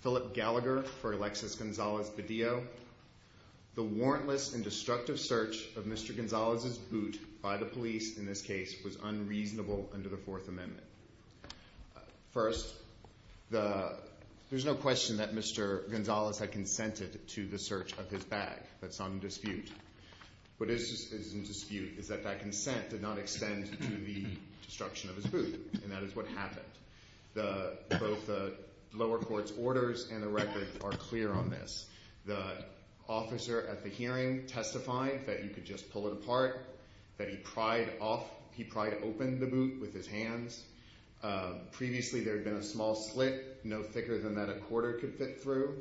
Philip Gallagher for Alexis Gonzalez-Badillo. The warrantless and destructive search of Mr. Gonzalez's boot by the police, in this case, was unreasonable under the Fourth Amendment. First, there's no question that Mr. Gonzalez had consented to the search of his bag. That's not in dispute. What is in dispute is that that consent did not extend to the destruction of his boot, and that is what happened. Both the lower court's orders and the record are clear on this. The officer at the hearing testified that you could just pull it apart, that he pried open the boot with his hands. Previously, there had been a small slit no thicker than that a quarter could fit through,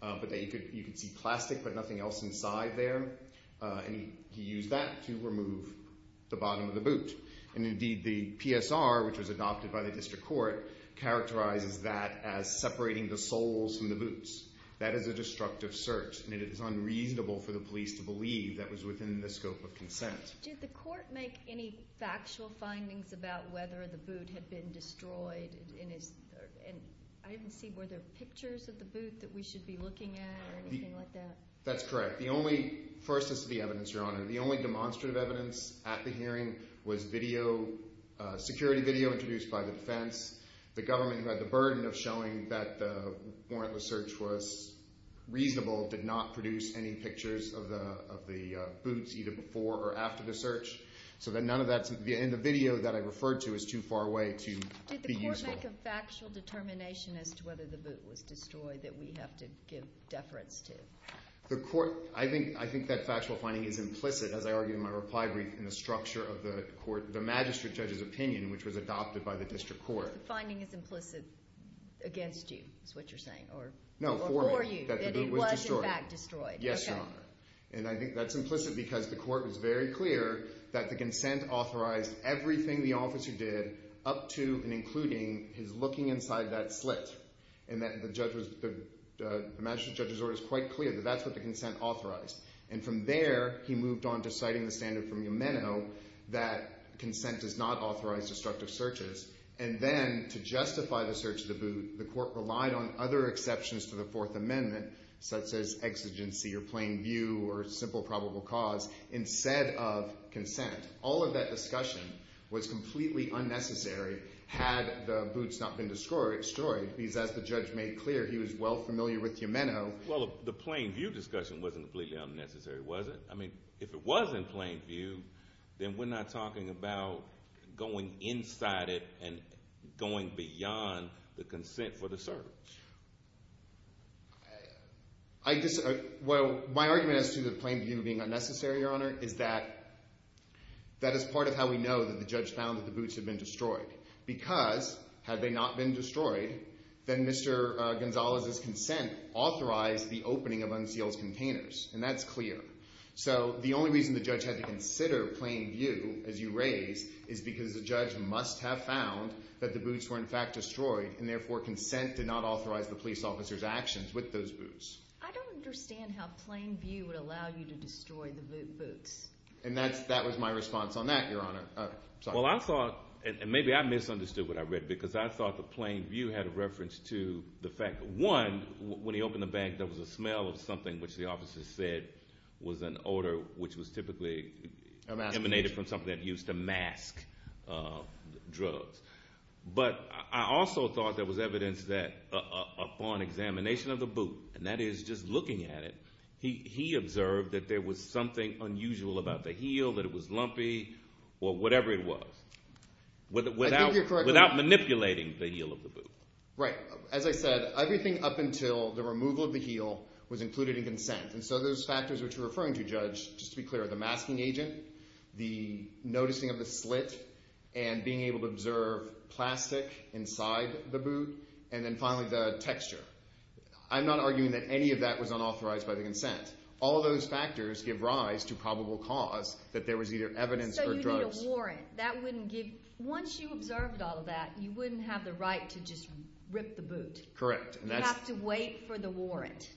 but that you could see plastic but nothing else inside there. He used that to remove the bottom of the boot. Indeed, the PSR, which was adopted by the district court, characterizes that as separating the soles from the boots. That is a destructive search, and it is unreasonable for the police to believe that was within the scope of consent. Did the court make any factual findings about whether the boot had been destroyed? I didn't see, were there pictures of the boot that we should be looking at or anything like that? That's correct. The only – first, this is the evidence, Your Honor. The only demonstrative evidence at the hearing was video, security video introduced by the defense. The government, who had the burden of showing that the warrantless search was reasonable, did not produce any pictures of the boots either before or after the search. So then none of that – and the video that I referred to is too far away to be useful. Did the court make a factual determination as to whether the boot was destroyed that we have to give deference to? The court – I think that factual finding is implicit, as I argue in my reply brief, in the structure of the magistrate judge's opinion, which was adopted by the district court. The finding is implicit against you is what you're saying, or for you, that it was in fact destroyed. Yes, Your Honor. And I think that's implicit because the court was very clear that the consent authorized everything the officer did up to and including his looking inside that slit. And that the judge was – the magistrate judge's order was quite clear that that's what the consent authorized. And from there, he moved on to citing the standard from Yameno that consent does not authorize destructive searches. And then to justify the search of the boot, the court relied on other exceptions to the Fourth Amendment, such as exigency or plain view or simple probable cause, instead of consent. All of that discussion was completely unnecessary had the boots not been destroyed, because as the judge made clear, he was well familiar with Yameno. Well, the plain view discussion wasn't completely unnecessary, was it? I mean, if it was in plain view, then we're not talking about going inside it and going beyond the consent for the search. I just – well, my argument as to the plain view being unnecessary, Your Honor, is that that is part of how we know that the judge found that the boots had been destroyed. Because had they not been destroyed, then Mr. Gonzalez's consent authorized the opening of unsealed containers, and that's clear. So the only reason the judge had to consider plain view, as you raise, is because the judge must have found that the boots were in fact destroyed, and therefore consent did not authorize the police officer's actions with those boots. I don't understand how plain view would allow you to destroy the boots. And that was my response on that, Your Honor. Well, I thought – and maybe I misunderstood what I read, because I thought the plain view had a reference to the fact that, one, when he opened the bag, there was a smell of something which the officer said was an odor which was typically emanated from something that used to mask drugs. But I also thought there was evidence that upon examination of the boot, and that is just looking at it, he observed that there was something unusual about the heel, that it was lumpy, or whatever it was, without manipulating the heel of the boot. Right. As I said, everything up until the removal of the heel was included in consent. And so those factors which you're referring to, Judge, just to be clear, are the masking agent, the noticing of the slit, and being able to observe plastic inside the boot, and then finally the texture. I'm not arguing that any of that was unauthorized by the consent. All of those factors give rise to probable cause that there was either evidence or drugs. So you need a warrant. That wouldn't give – once you observed all of that, you wouldn't have the right to just rip the boot. You have to wait for the warrant.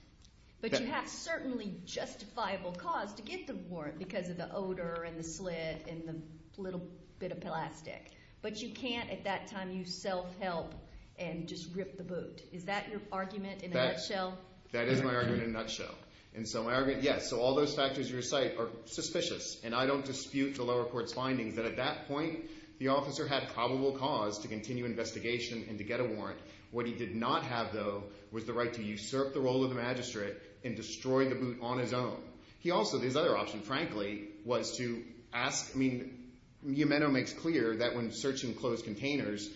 But you have certainly justifiable cause to get the warrant because of the odor and the slit and the little bit of plastic. But you can't at that time use self-help and just rip the boot. Is that your argument in a nutshell? That is my argument in a nutshell. And so my argument – yes, so all those factors you recite are suspicious. And I don't dispute the lower court's findings that at that point the officer had probable cause to continue investigation and to get a warrant. What he did not have, though, was the right to usurp the role of the magistrate and destroy the boot on his own. He also – his other option, frankly, was to ask – I mean, Miumeno makes clear that when searching closed containers,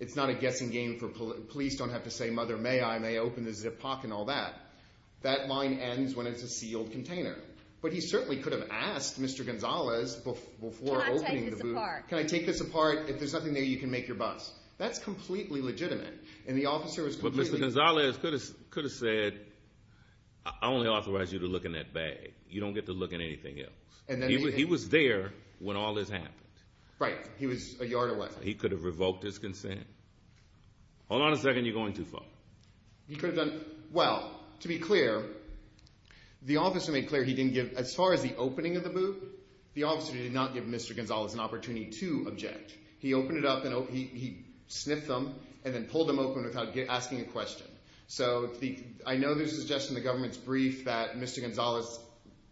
it's not a guessing game for police. Police don't have to say, mother, may I, may I open the zip pocket and all that. That line ends when it's a sealed container. But he certainly could have asked Mr. Gonzalez before opening the boot – Can I take this apart? Can I take this apart? If there's nothing there, you can make your bus. That's completely legitimate. And the officer was completely – But Mr. Gonzalez could have said, I only authorize you to look in that bag. You don't get to look in anything else. He was there when all this happened. Right. He was a yard away. He could have revoked his consent. Hold on a second. You're going too far. He could have done – well, to be clear, the officer made clear he didn't give – as far as the opening of the boot, the officer did not give Mr. Gonzalez an opportunity to object. He opened it up and he sniffed them and then pulled them open without asking a question. So I know there's a suggestion in the government's brief that Mr. Gonzalez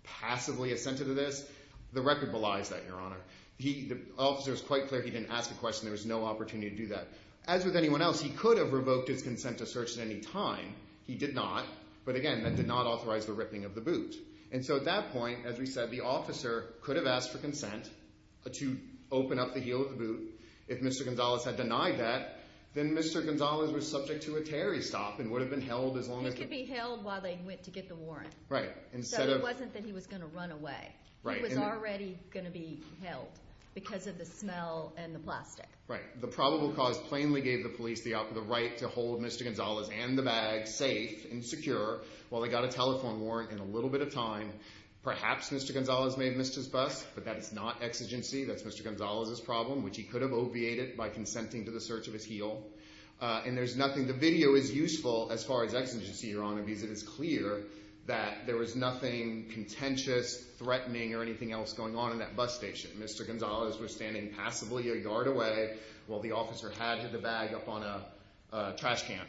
passively assented to this. The record belies that, Your Honor. The officer was quite clear he didn't ask a question. There was no opportunity to do that. As with anyone else, he could have revoked his consent to search at any time. He did not. But again, that did not authorize the ripping of the boot. And so at that point, as we said, the officer could have asked for consent to open up the heel of the boot. If Mr. Gonzalez had denied that, then Mr. Gonzalez was subject to a Terry stop and would have been held as long as – He could be held while they went to get the warrant. Right. Instead of – So it wasn't that he was going to run away. Right. He was already going to be held because of the smell and the plastic. Right. The probable cause plainly gave the police the right to hold Mr. Gonzalez and the bag safe and secure while they got a telephone warrant in a little bit of time. Perhaps Mr. Gonzalez may have missed his bus, but that is not exigency. That's Mr. Gonzalez's problem, which he could have obviated by consenting to the search of his heel. And there's nothing – the video is useful as far as exigency, Your Honor, because it is clear that there was nothing contentious, threatening, or anything else going on in that bus station. Mr. Gonzalez was standing passably a yard away while the officer had hid the bag up on a trash can.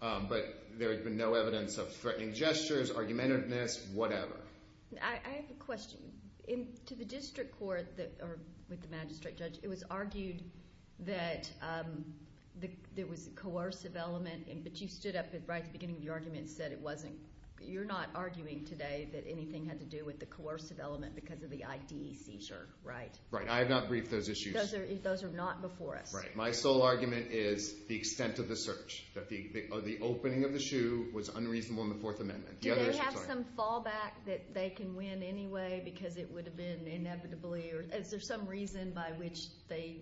But there had been no evidence of threatening gestures, argumentativeness, whatever. I have a question. To the district court or with the magistrate judge, it was argued that there was a coercive element, but you stood up right at the beginning of your argument and said it wasn't – that anything had to do with the coercive element because of the IDC, right? Right. I have not briefed those issues. Those are not before us. Right. My sole argument is the extent of the search, that the opening of the shoe was unreasonable in the Fourth Amendment. Do they have some fallback that they can win anyway because it would have been inevitably – is there some reason by which they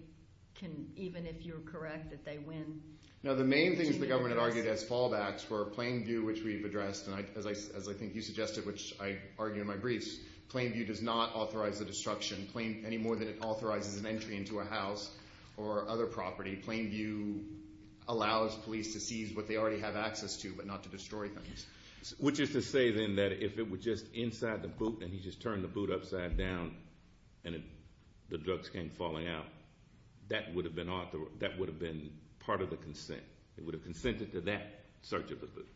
can, even if you're correct, that they win? Now, the main things the government argued as fallbacks were Plainview, which we've addressed, and as I think you suggested, which I argue in my briefs, Plainview does not authorize the destruction any more than it authorizes an entry into a house or other property. Plainview allows police to seize what they already have access to but not to destroy things. Which is to say then that if it were just inside the boot and he just turned the boot upside down and the drugs came falling out, that would have been part of the consent. It would have consented to that search of the boot.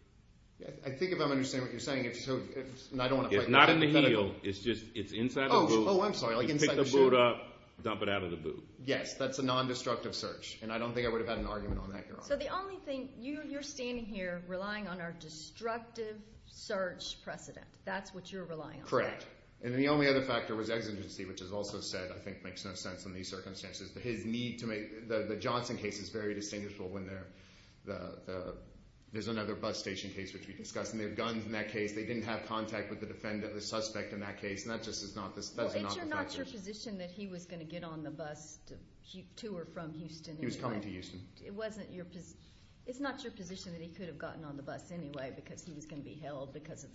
I think if I'm understanding what you're saying, it's so – and I don't want to – It's not in the heel. It's just – it's inside the boot. Oh, I'm sorry. Like inside the shoe. You pick the boot up, dump it out of the boot. Yes, that's a non-destructive search, and I don't think I would have had an argument on that, Your Honor. So the only thing – you're standing here relying on our destructive search precedent. That's what you're relying on. Correct. And the only other factor was exigency, which is also said, I think, makes no sense in these circumstances. His need to make – the Johnson case is very distinguishable when they're – there's another bus station case, which we discussed, and they have guns in that case. They didn't have contact with the defendant, the suspect in that case, and that just is not the – that's not the factors. Well, it's not your position that he was going to get on the bus to or from Houston anyway. He was coming to Houston. It wasn't your – it's not your position that he could have gotten on the bus anyway because he was going to be held because of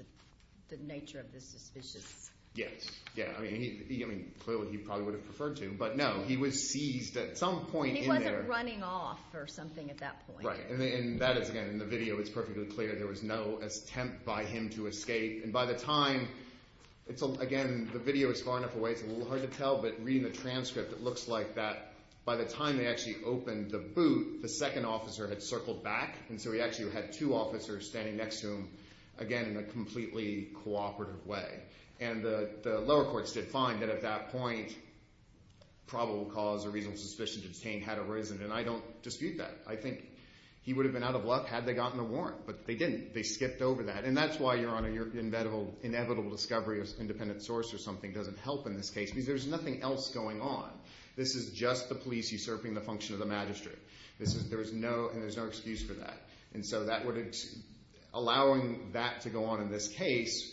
the nature of the suspicious – Yes, yes. I mean, clearly he probably would have preferred to, but no, he was seized at some point in there. He wasn't running off or something at that point. Right, and that is, again, in the video it's perfectly clear there was no attempt by him to escape. And by the time – again, the video is far enough away it's a little hard to tell, but reading the transcript it looks like that. By the time they actually opened the boot, the second officer had circled back, and so he actually had two officers standing next to him, again, in a completely cooperative way. And the lower courts did find that at that point probable cause or reasonable suspicion to detain had arisen, and I don't dispute that. I think he would have been out of luck had they gotten a warrant, but they didn't. They skipped over that, and that's why you're on a – your inevitable discovery of an independent source or something doesn't help in this case because there's nothing else going on. This is just the police usurping the function of the magistrate. This is – there is no – and there's no excuse for that. And so that would – allowing that to go on in this case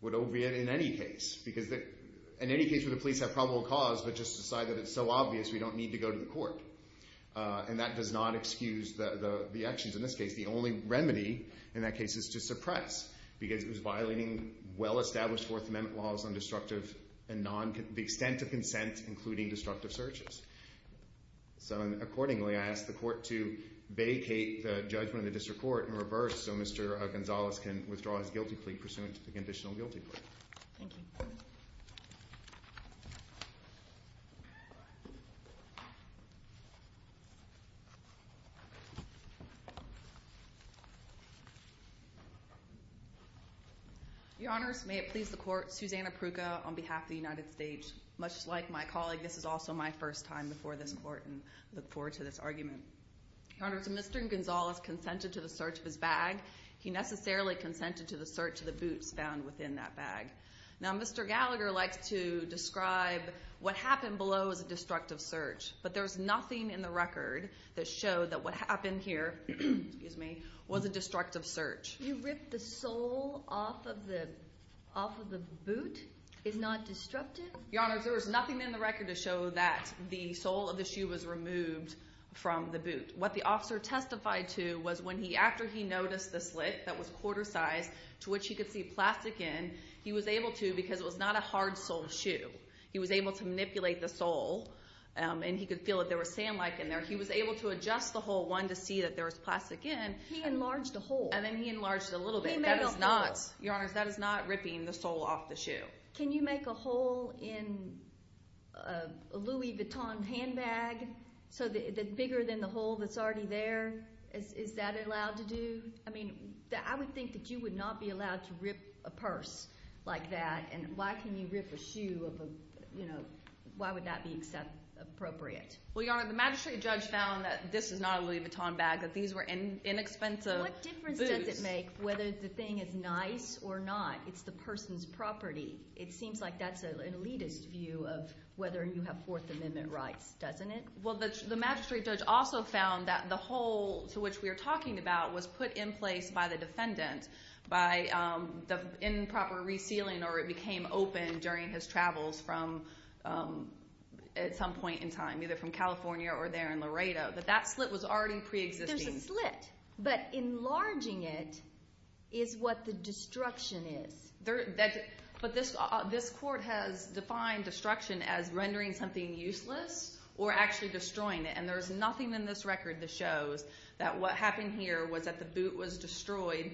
would oviate in any case because – in any case would the police have probable cause but just decide that it's so obvious we don't need to go to the court. And that does not excuse the actions in this case. The only remedy in that case is to suppress because it was violating well-established Fourth Amendment laws on destructive and non – the extent of consent, including destructive searches. So accordingly, I ask the court to vacate the judgment of the district court in reverse so Mr. Gonzales can withdraw his guilty plea pursuant to the conditional guilty plea. Thank you. Your Honors, may it please the court, Susanna Pruka on behalf of the United States. Much like my colleague, this is also my first time before this court and I look forward to this argument. Your Honors, Mr. Gonzales consented to the search of his bag. He necessarily consented to the search of the boots found within that bag. Now Mr. Gallagher likes to describe what happened below as a destructive search. But there's nothing in the record that showed that what happened here – excuse me – was a destructive search. You ripped the sole off of the – off of the boot? It's not destructive? Your Honors, there was nothing in the record to show that the sole of the shoe was removed from the boot. What the officer testified to was when he – after he noticed the slit that was quarter-sized to which he could see plastic in, he was able to – because it was not a hard-soled shoe – he was able to manipulate the sole and he could feel that there was sand like in there. He was able to adjust the hole one to see that there was plastic in. He enlarged a hole. And then he enlarged it a little bit. He made a hole. That is not – Your Honors, that is not ripping the sole off the shoe. Can you make a hole in a Louis Vuitton handbag so that – bigger than the hole that's already there? Is that allowed to do? I mean I would think that you would not be allowed to rip a purse like that. And why can you rip a shoe of a – why would that be appropriate? Well, Your Honor, the magistrate judge found that this is not a Louis Vuitton bag, that these were inexpensive boots. What difference does it make whether the thing is nice or not? It's the person's property. It seems like that's an elitist view of whether you have Fourth Amendment rights, doesn't it? Well, the magistrate judge also found that the hole to which we are talking about was put in place by the defendant by improper resealing or it became open during his travels from – at some point in time, either from California or there in Laredo. But that slit was already preexisting. There's a slit, but enlarging it is what the destruction is. But this court has defined destruction as rendering something useless or actually destroying it, and there is nothing in this record that shows that what happened here was that the boot was destroyed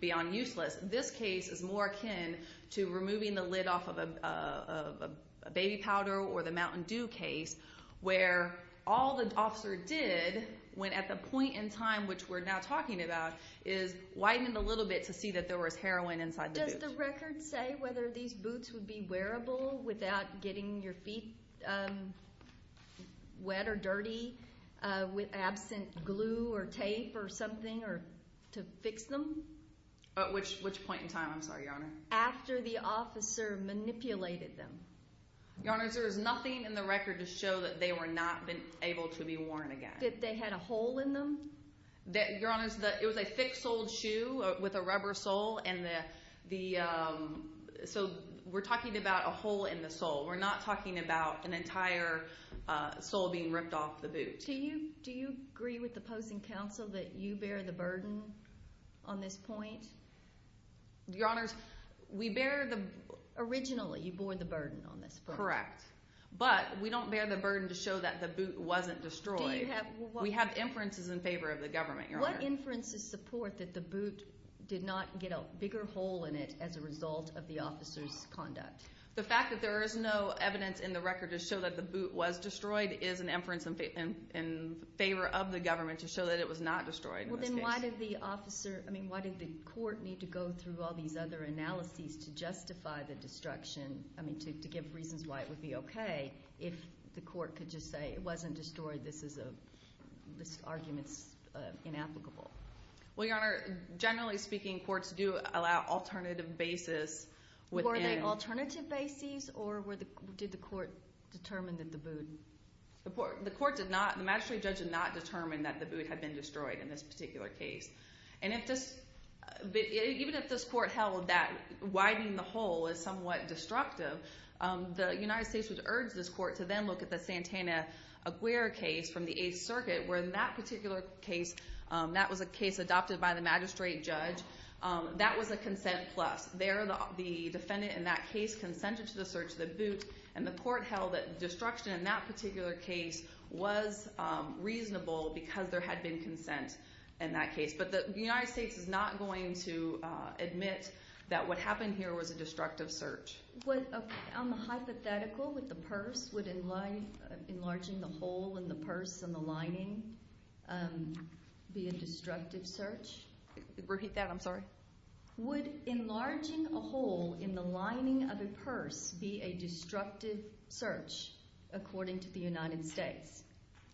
beyond useless. This case is more akin to removing the lid off of a baby powder or the Mountain Dew case where all the officer did when at the point in time which we're now talking about is widened a little bit to see that there was heroin inside the boot. Does the record say whether these boots would be wearable without getting your feet wet or dirty with absent glue or tape or something or to fix them? At which point in time? I'm sorry, Your Honor. After the officer manipulated them. Your Honor, there is nothing in the record to show that they were not able to be worn again. That they had a hole in them? Your Honor, it was a thick-soled shoe with a rubber sole, and the – so we're talking about a hole in the sole. We're not talking about an entire sole being ripped off the boot. Do you agree with the opposing counsel that you bear the burden on this point? Your Honors, we bear the – Originally, you bore the burden on this point. Correct. But we don't bear the burden to show that the boot wasn't destroyed. Do you have – We have inferences in favor of the government, Your Honor. What inferences support that the boot did not get a bigger hole in it as a result of the officer's conduct? The fact that there is no evidence in the record to show that the boot was destroyed is an inference in favor of the government to show that it was not destroyed in this case. Well, then why did the officer – I mean, why did the court need to go through all these other analyses to justify the destruction – I mean, to give reasons why it would be okay if the court could just say it wasn't destroyed, this is a – this argument is inapplicable? Well, Your Honor, generally speaking, courts do allow alternative bases within – Were they alternative bases, or did the court determine that the boot – The court did not – the magistrate judge did not determine that the boot had been destroyed in this particular case. And if this – even if this court held that widening the hole is somewhat destructive, the United States would urge this court to then look at the Santana-Aguirre case from the Eighth Circuit, where in that particular case, that was a case adopted by the magistrate judge. That was a consent plus. There, the defendant in that case consented to the search of the boot, and the court held that destruction in that particular case was reasonable because there had been consent in that case. But the United States is not going to admit that what happened here was a destructive search. Would a hypothetical with the purse, would enlarging the hole in the purse and the lining be a destructive search? Repeat that, I'm sorry. Would enlarging a hole in the lining of a purse be a destructive search, according to the United States?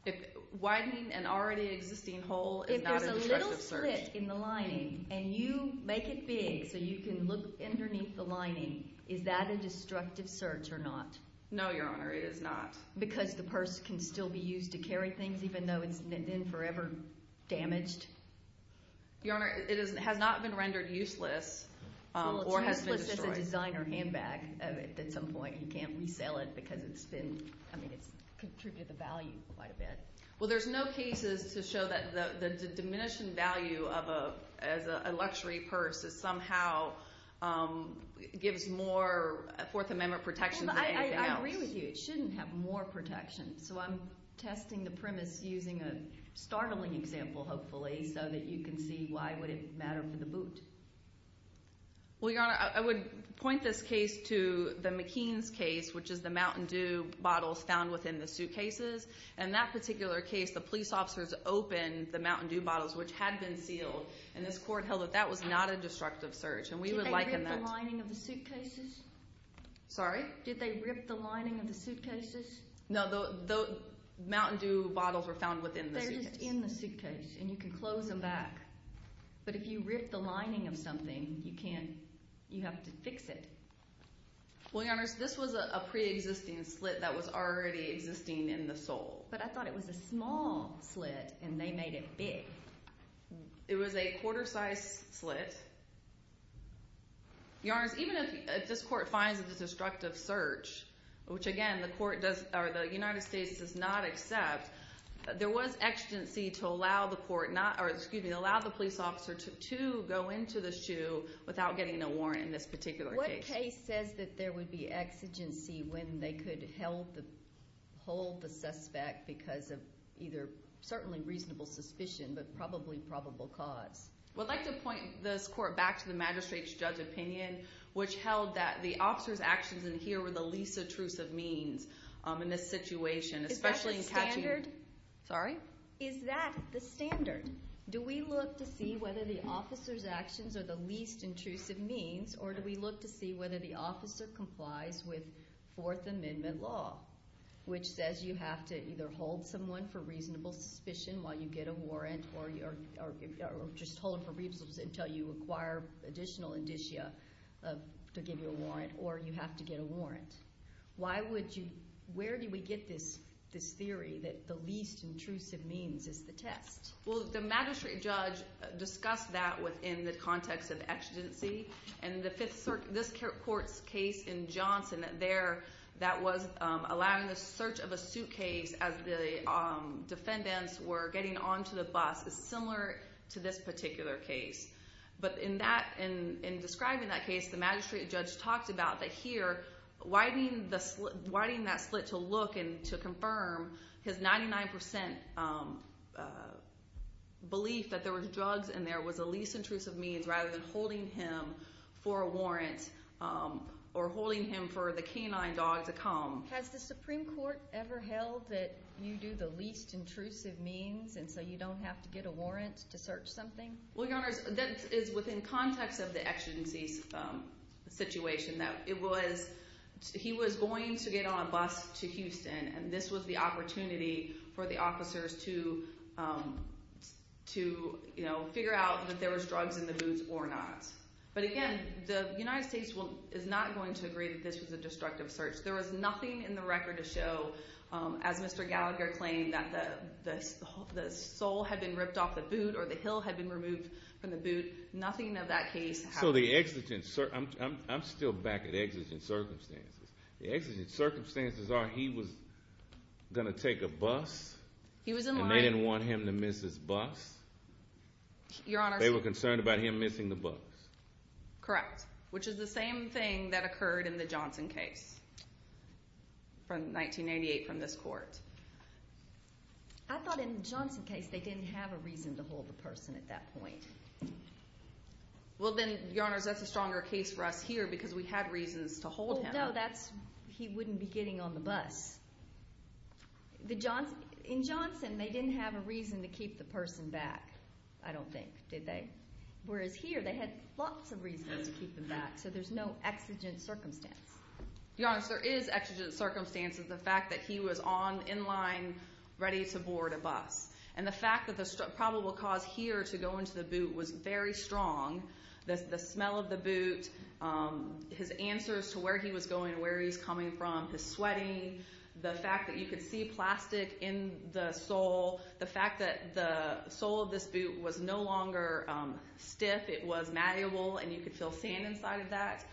If widening an already existing hole is not a destructive search – If there's a little slit in the lining and you make it big so you can look underneath the lining, is that a destructive search or not? No, Your Honor, it is not. Because the purse can still be used to carry things even though it's been forever damaged? Your Honor, it has not been rendered useless or has been destroyed. Well, it's useless as a designer handbag at some point. You can't resell it because it's contributed the value quite a bit. Well, there's no cases to show that the diminishing value of a luxury purse somehow gives more Fourth Amendment protection than anything else. I agree with you. It shouldn't have more protection. So I'm testing the premise using a startling example, hopefully, so that you can see why would it matter for the boot? Well, Your Honor, I would point this case to the McKean's case, which is the Mountain Dew bottles found within the suitcases. In that particular case, the police officers opened the Mountain Dew bottles, which had been sealed, and this court held that that was not a destructive search. Did they rip the lining of the suitcases? Sorry? Did they rip the lining of the suitcases? No, the Mountain Dew bottles were found within the suitcase. They're just in the suitcase, and you can close them back. But if you rip the lining of something, you have to fix it. Well, Your Honor, this was a preexisting slit that was already existing in the sole. But I thought it was a small slit, and they made it big. It was a quarter-sized slit. Your Honor, even if this court finds it a destructive search, which, again, the United States does not accept, there was exigency to allow the police officer to go into the shoe without getting a warrant in this particular case. The case says that there would be exigency when they could hold the suspect because of either certainly reasonable suspicion but probably probable cause. I'd like to point this court back to the magistrate's judge opinion, which held that the officer's actions in here were the least intrusive means in this situation, especially in catching— Is that the standard? Sorry? Whether the officer complies with Fourth Amendment law, which says you have to either hold someone for reasonable suspicion while you get a warrant or just hold them for reasonable suspicion until you acquire additional indicia to give you a warrant, or you have to get a warrant. Why would you – where do we get this theory that the least intrusive means is the test? Well, the magistrate judge discussed that within the context of exigency, and this court's case in Johnson there that was allowing the search of a suitcase as the defendants were getting onto the bus is similar to this particular case. But in that – in describing that case, the magistrate judge talked about that here widening that slit to look and to confirm his 99 percent belief that there was drugs in there was a least intrusive means rather than holding him for a warrant or holding him for the canine dog to come. Has the Supreme Court ever held that you do the least intrusive means and so you don't have to get a warrant to search something? Well, Your Honors, that is within context of the exigency situation that it was – he was going to get on a bus to Houston, and this was the opportunity for the officers to figure out that there was drugs in the boots or not. But again, the United States is not going to agree that this was a destructive search. There was nothing in the record to show, as Mr. Gallagher claimed, that the sole had been ripped off the boot or the heel had been removed from the boot. Nothing of that case. So the exigent – I'm still back at exigent circumstances. The exigent circumstances are he was going to take a bus. He was in line. And they didn't want him to miss his bus. Your Honors. They were concerned about him missing the bus. Correct, which is the same thing that occurred in the Johnson case from 1988 from this court. I thought in the Johnson case they didn't have a reason to hold the person at that point. Well then, Your Honors, that's a stronger case for us here because we had reasons to hold him. No, that's – he wouldn't be getting on the bus. In Johnson, they didn't have a reason to keep the person back, I don't think, did they? Whereas here, they had lots of reasons to keep them back, so there's no exigent circumstance. Your Honors, there is exigent circumstances. The fact that he was on – in line ready to board a bus. And the fact that the probable cause here to go into the boot was very strong. The smell of the boot, his answers to where he was going, where he was coming from, his sweating. The fact that you could see plastic in the sole. The fact that the sole of this boot was no longer stiff. It was malleable, and you could feel sand inside of that.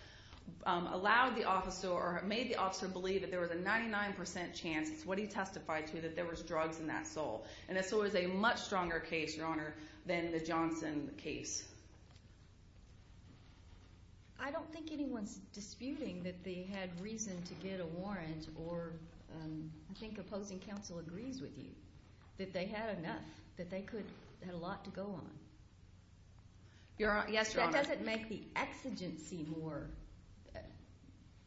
Allowed the officer – or made the officer believe that there was a 99% chance, it's what he testified to, that there was drugs in that sole. And the sole is a much stronger case, Your Honor, than the Johnson case. I don't think anyone's disputing that they had reason to get a warrant, or I think opposing counsel agrees with you, that they had enough, that they could – had a lot to go on. Your – yes, Your Honor. That doesn't make the exigency more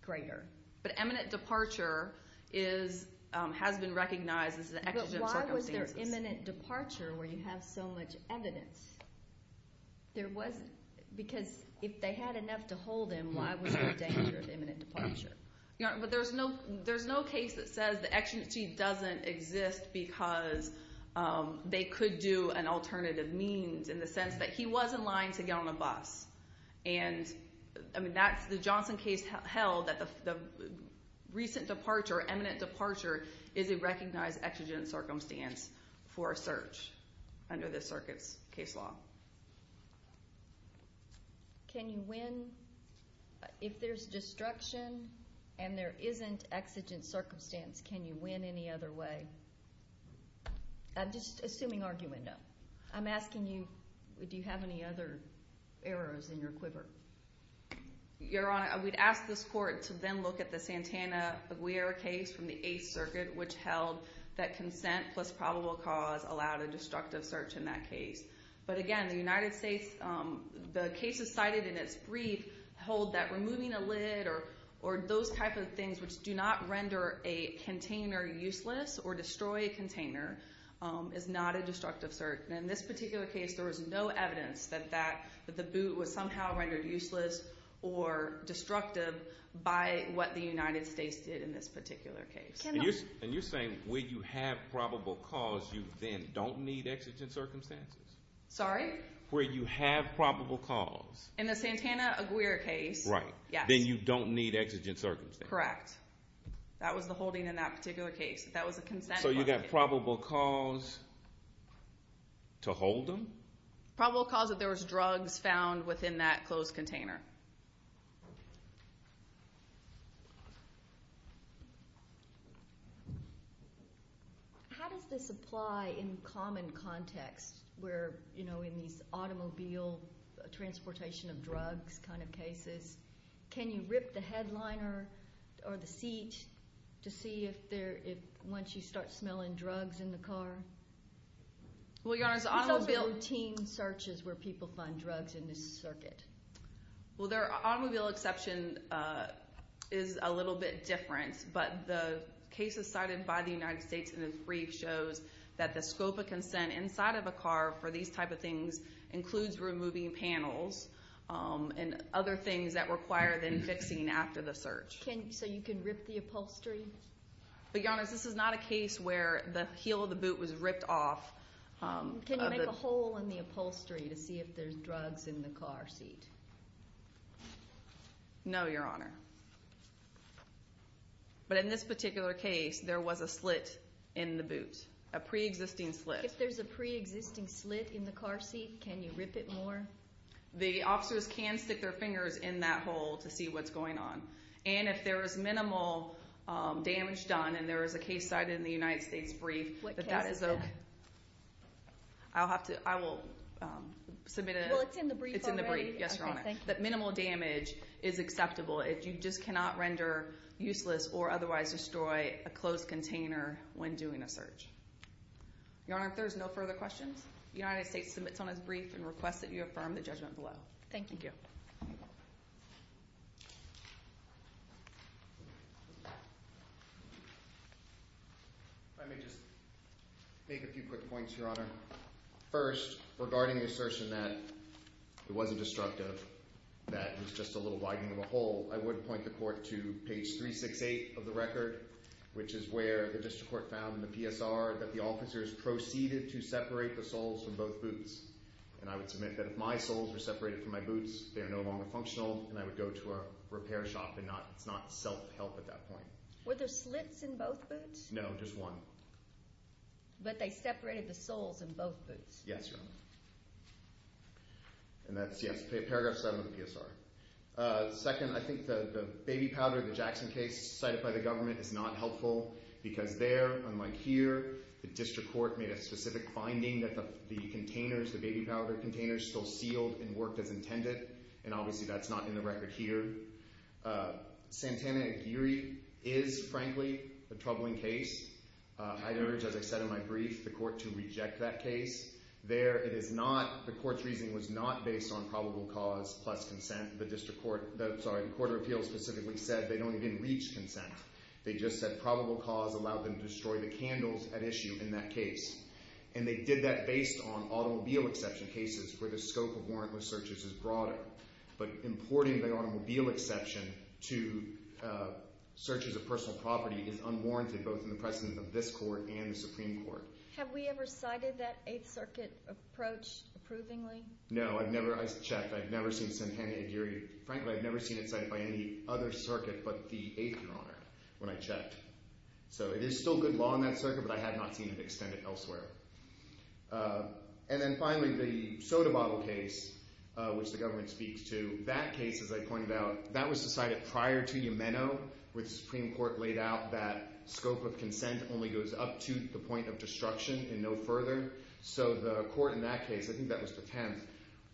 greater. But eminent departure is – has been recognized as an exigent circumstance. But why was there imminent departure where you have so much evidence? There was – because if they had enough to hold him, why was there a danger of imminent departure? Your Honor, but there's no – there's no case that says the exigency doesn't exist because they could do an alternative means in the sense that he was in line to get on a bus. And, I mean, that's – the Johnson case held that the recent departure, eminent departure, is a recognized exigent circumstance for a search under this circuit's case law. Can you win – if there's destruction and there isn't exigent circumstance, can you win any other way? Just assuming argument, no. I'm asking you, do you have any other errors in your quiver? Your Honor, we'd ask this court to then look at the Santana-Aguirre case from the Eighth Circuit, which held that consent plus probable cause allowed a destructive search in that case. But, again, the United States – the cases cited in its brief hold that removing a lid or those type of things which do not render a container useless or destroy a container is not a destructive search. In this particular case, there was no evidence that the boot was somehow rendered useless or destructive by what the United States did in this particular case. And you're saying where you have probable cause, you then don't need exigent circumstances? Sorry? Where you have probable cause. In the Santana-Aguirre case, yes. So you don't need exigent circumstances? Correct. That was the holding in that particular case. That was a consent. So you got probable cause to hold them? Probable cause that there was drugs found within that closed container. How does this apply in common context where, you know, in these automobile transportation of drugs kind of cases, can you rip the headliner or the seat to see if once you start smelling drugs in the car? Well, your Honor, automobile – This is a routine search is where people find drugs in this circuit. Well, the automobile exception is a little bit different, but the cases cited by the United States in the brief shows that the scope of consent inside of a car for these type of things includes removing panels and other things that require them fixing after the search. So you can rip the upholstery? But, your Honor, this is not a case where the heel of the boot was ripped off. Can you make a hole in the upholstery to see if there's drugs in the car seat? No, your Honor. But in this particular case, there was a slit in the boot, a preexisting slit. If there's a preexisting slit in the car seat, can you rip it more? The officers can stick their fingers in that hole to see what's going on. And if there is minimal damage done and there is a case cited in the United States brief that that is – What case is that? I'll have to – I will submit a – Well, it's in the brief already? It's in the brief. Yes, your Honor. Okay, thank you. That minimal damage is acceptable. You just cannot render useless or otherwise destroy a closed container when doing a search. Your Honor, if there's no further questions, the United States submits on its brief and requests that you affirm the judgment below. Thank you. Thank you. If I may just make a few quick points, your Honor. First, regarding the assertion that it wasn't destructive, that it was just a little widening of a hole, I would point the court to page 368 of the record, which is where the district court found in the PSR that the officers proceeded to separate the soles from both boots. And I would submit that if my soles were separated from my boots, they are no longer functional, and I would go to a repair shop and not – it's not self-help at that point. Were there slits in both boots? No, just one. But they separated the soles in both boots. Yes, your Honor. And that's – yes, paragraph 7 of the PSR. Second, I think the baby powder, the Jackson case cited by the government is not helpful because there, unlike here, the district court made a specific finding that the containers, the baby powder containers still sealed and worked as intended, and obviously that's not in the record here. Santana-Aguirre is, frankly, a troubling case. I'd urge, as I said in my brief, the court to reject that case. There it is not – the court's reasoning was not based on probable cause plus consent. The district court – sorry, the court of appeals specifically said they don't even reach consent. They just said probable cause allowed them to destroy the candles at issue in that case. And they did that based on automobile exception cases where the scope of warrantless searches is broader. But importing the automobile exception to searches of personal property is unwarranted, both in the presence of this court and the Supreme Court. Have we ever cited that Eighth Circuit approach approvingly? No, I've never – I checked. I've never seen Santana-Aguirre – frankly, I've never seen it cited by any other circuit but the Eighth Coroner when I checked. So it is still good law in that circuit, but I have not seen it extended elsewhere. And then finally, the soda bottle case, which the government speaks to, that case, as I pointed out, that was decided prior to Yemeno where the Supreme Court laid out that scope of consent only goes up to the point of destruction and no further. So the court in that case – I think that was the 10th –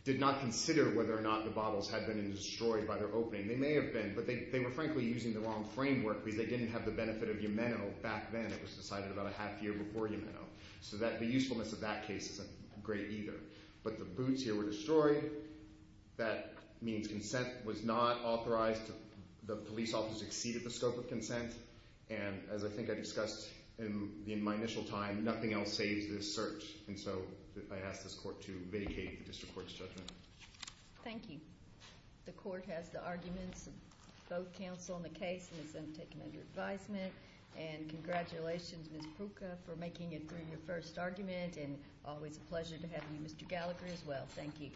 did not consider whether or not the bottles had been destroyed by their opening. They may have been, but they were frankly using the wrong framework because they didn't have the benefit of Yemeno back then. It was decided about a half year before Yemeno. So the usefulness of that case isn't great either. But the boots here were destroyed. That means consent was not authorized. The police office exceeded the scope of consent. And as I think I discussed in my initial time, nothing else saves this cert. And so I ask this court to vidicate the district court's judgment. Thank you. The court has the arguments of both counsel on the case and has then taken under advisement. And congratulations, Ms. Pruka, for making it through your first argument. And always a pleasure to have you, Mr. Gallagher, as well. Thank you.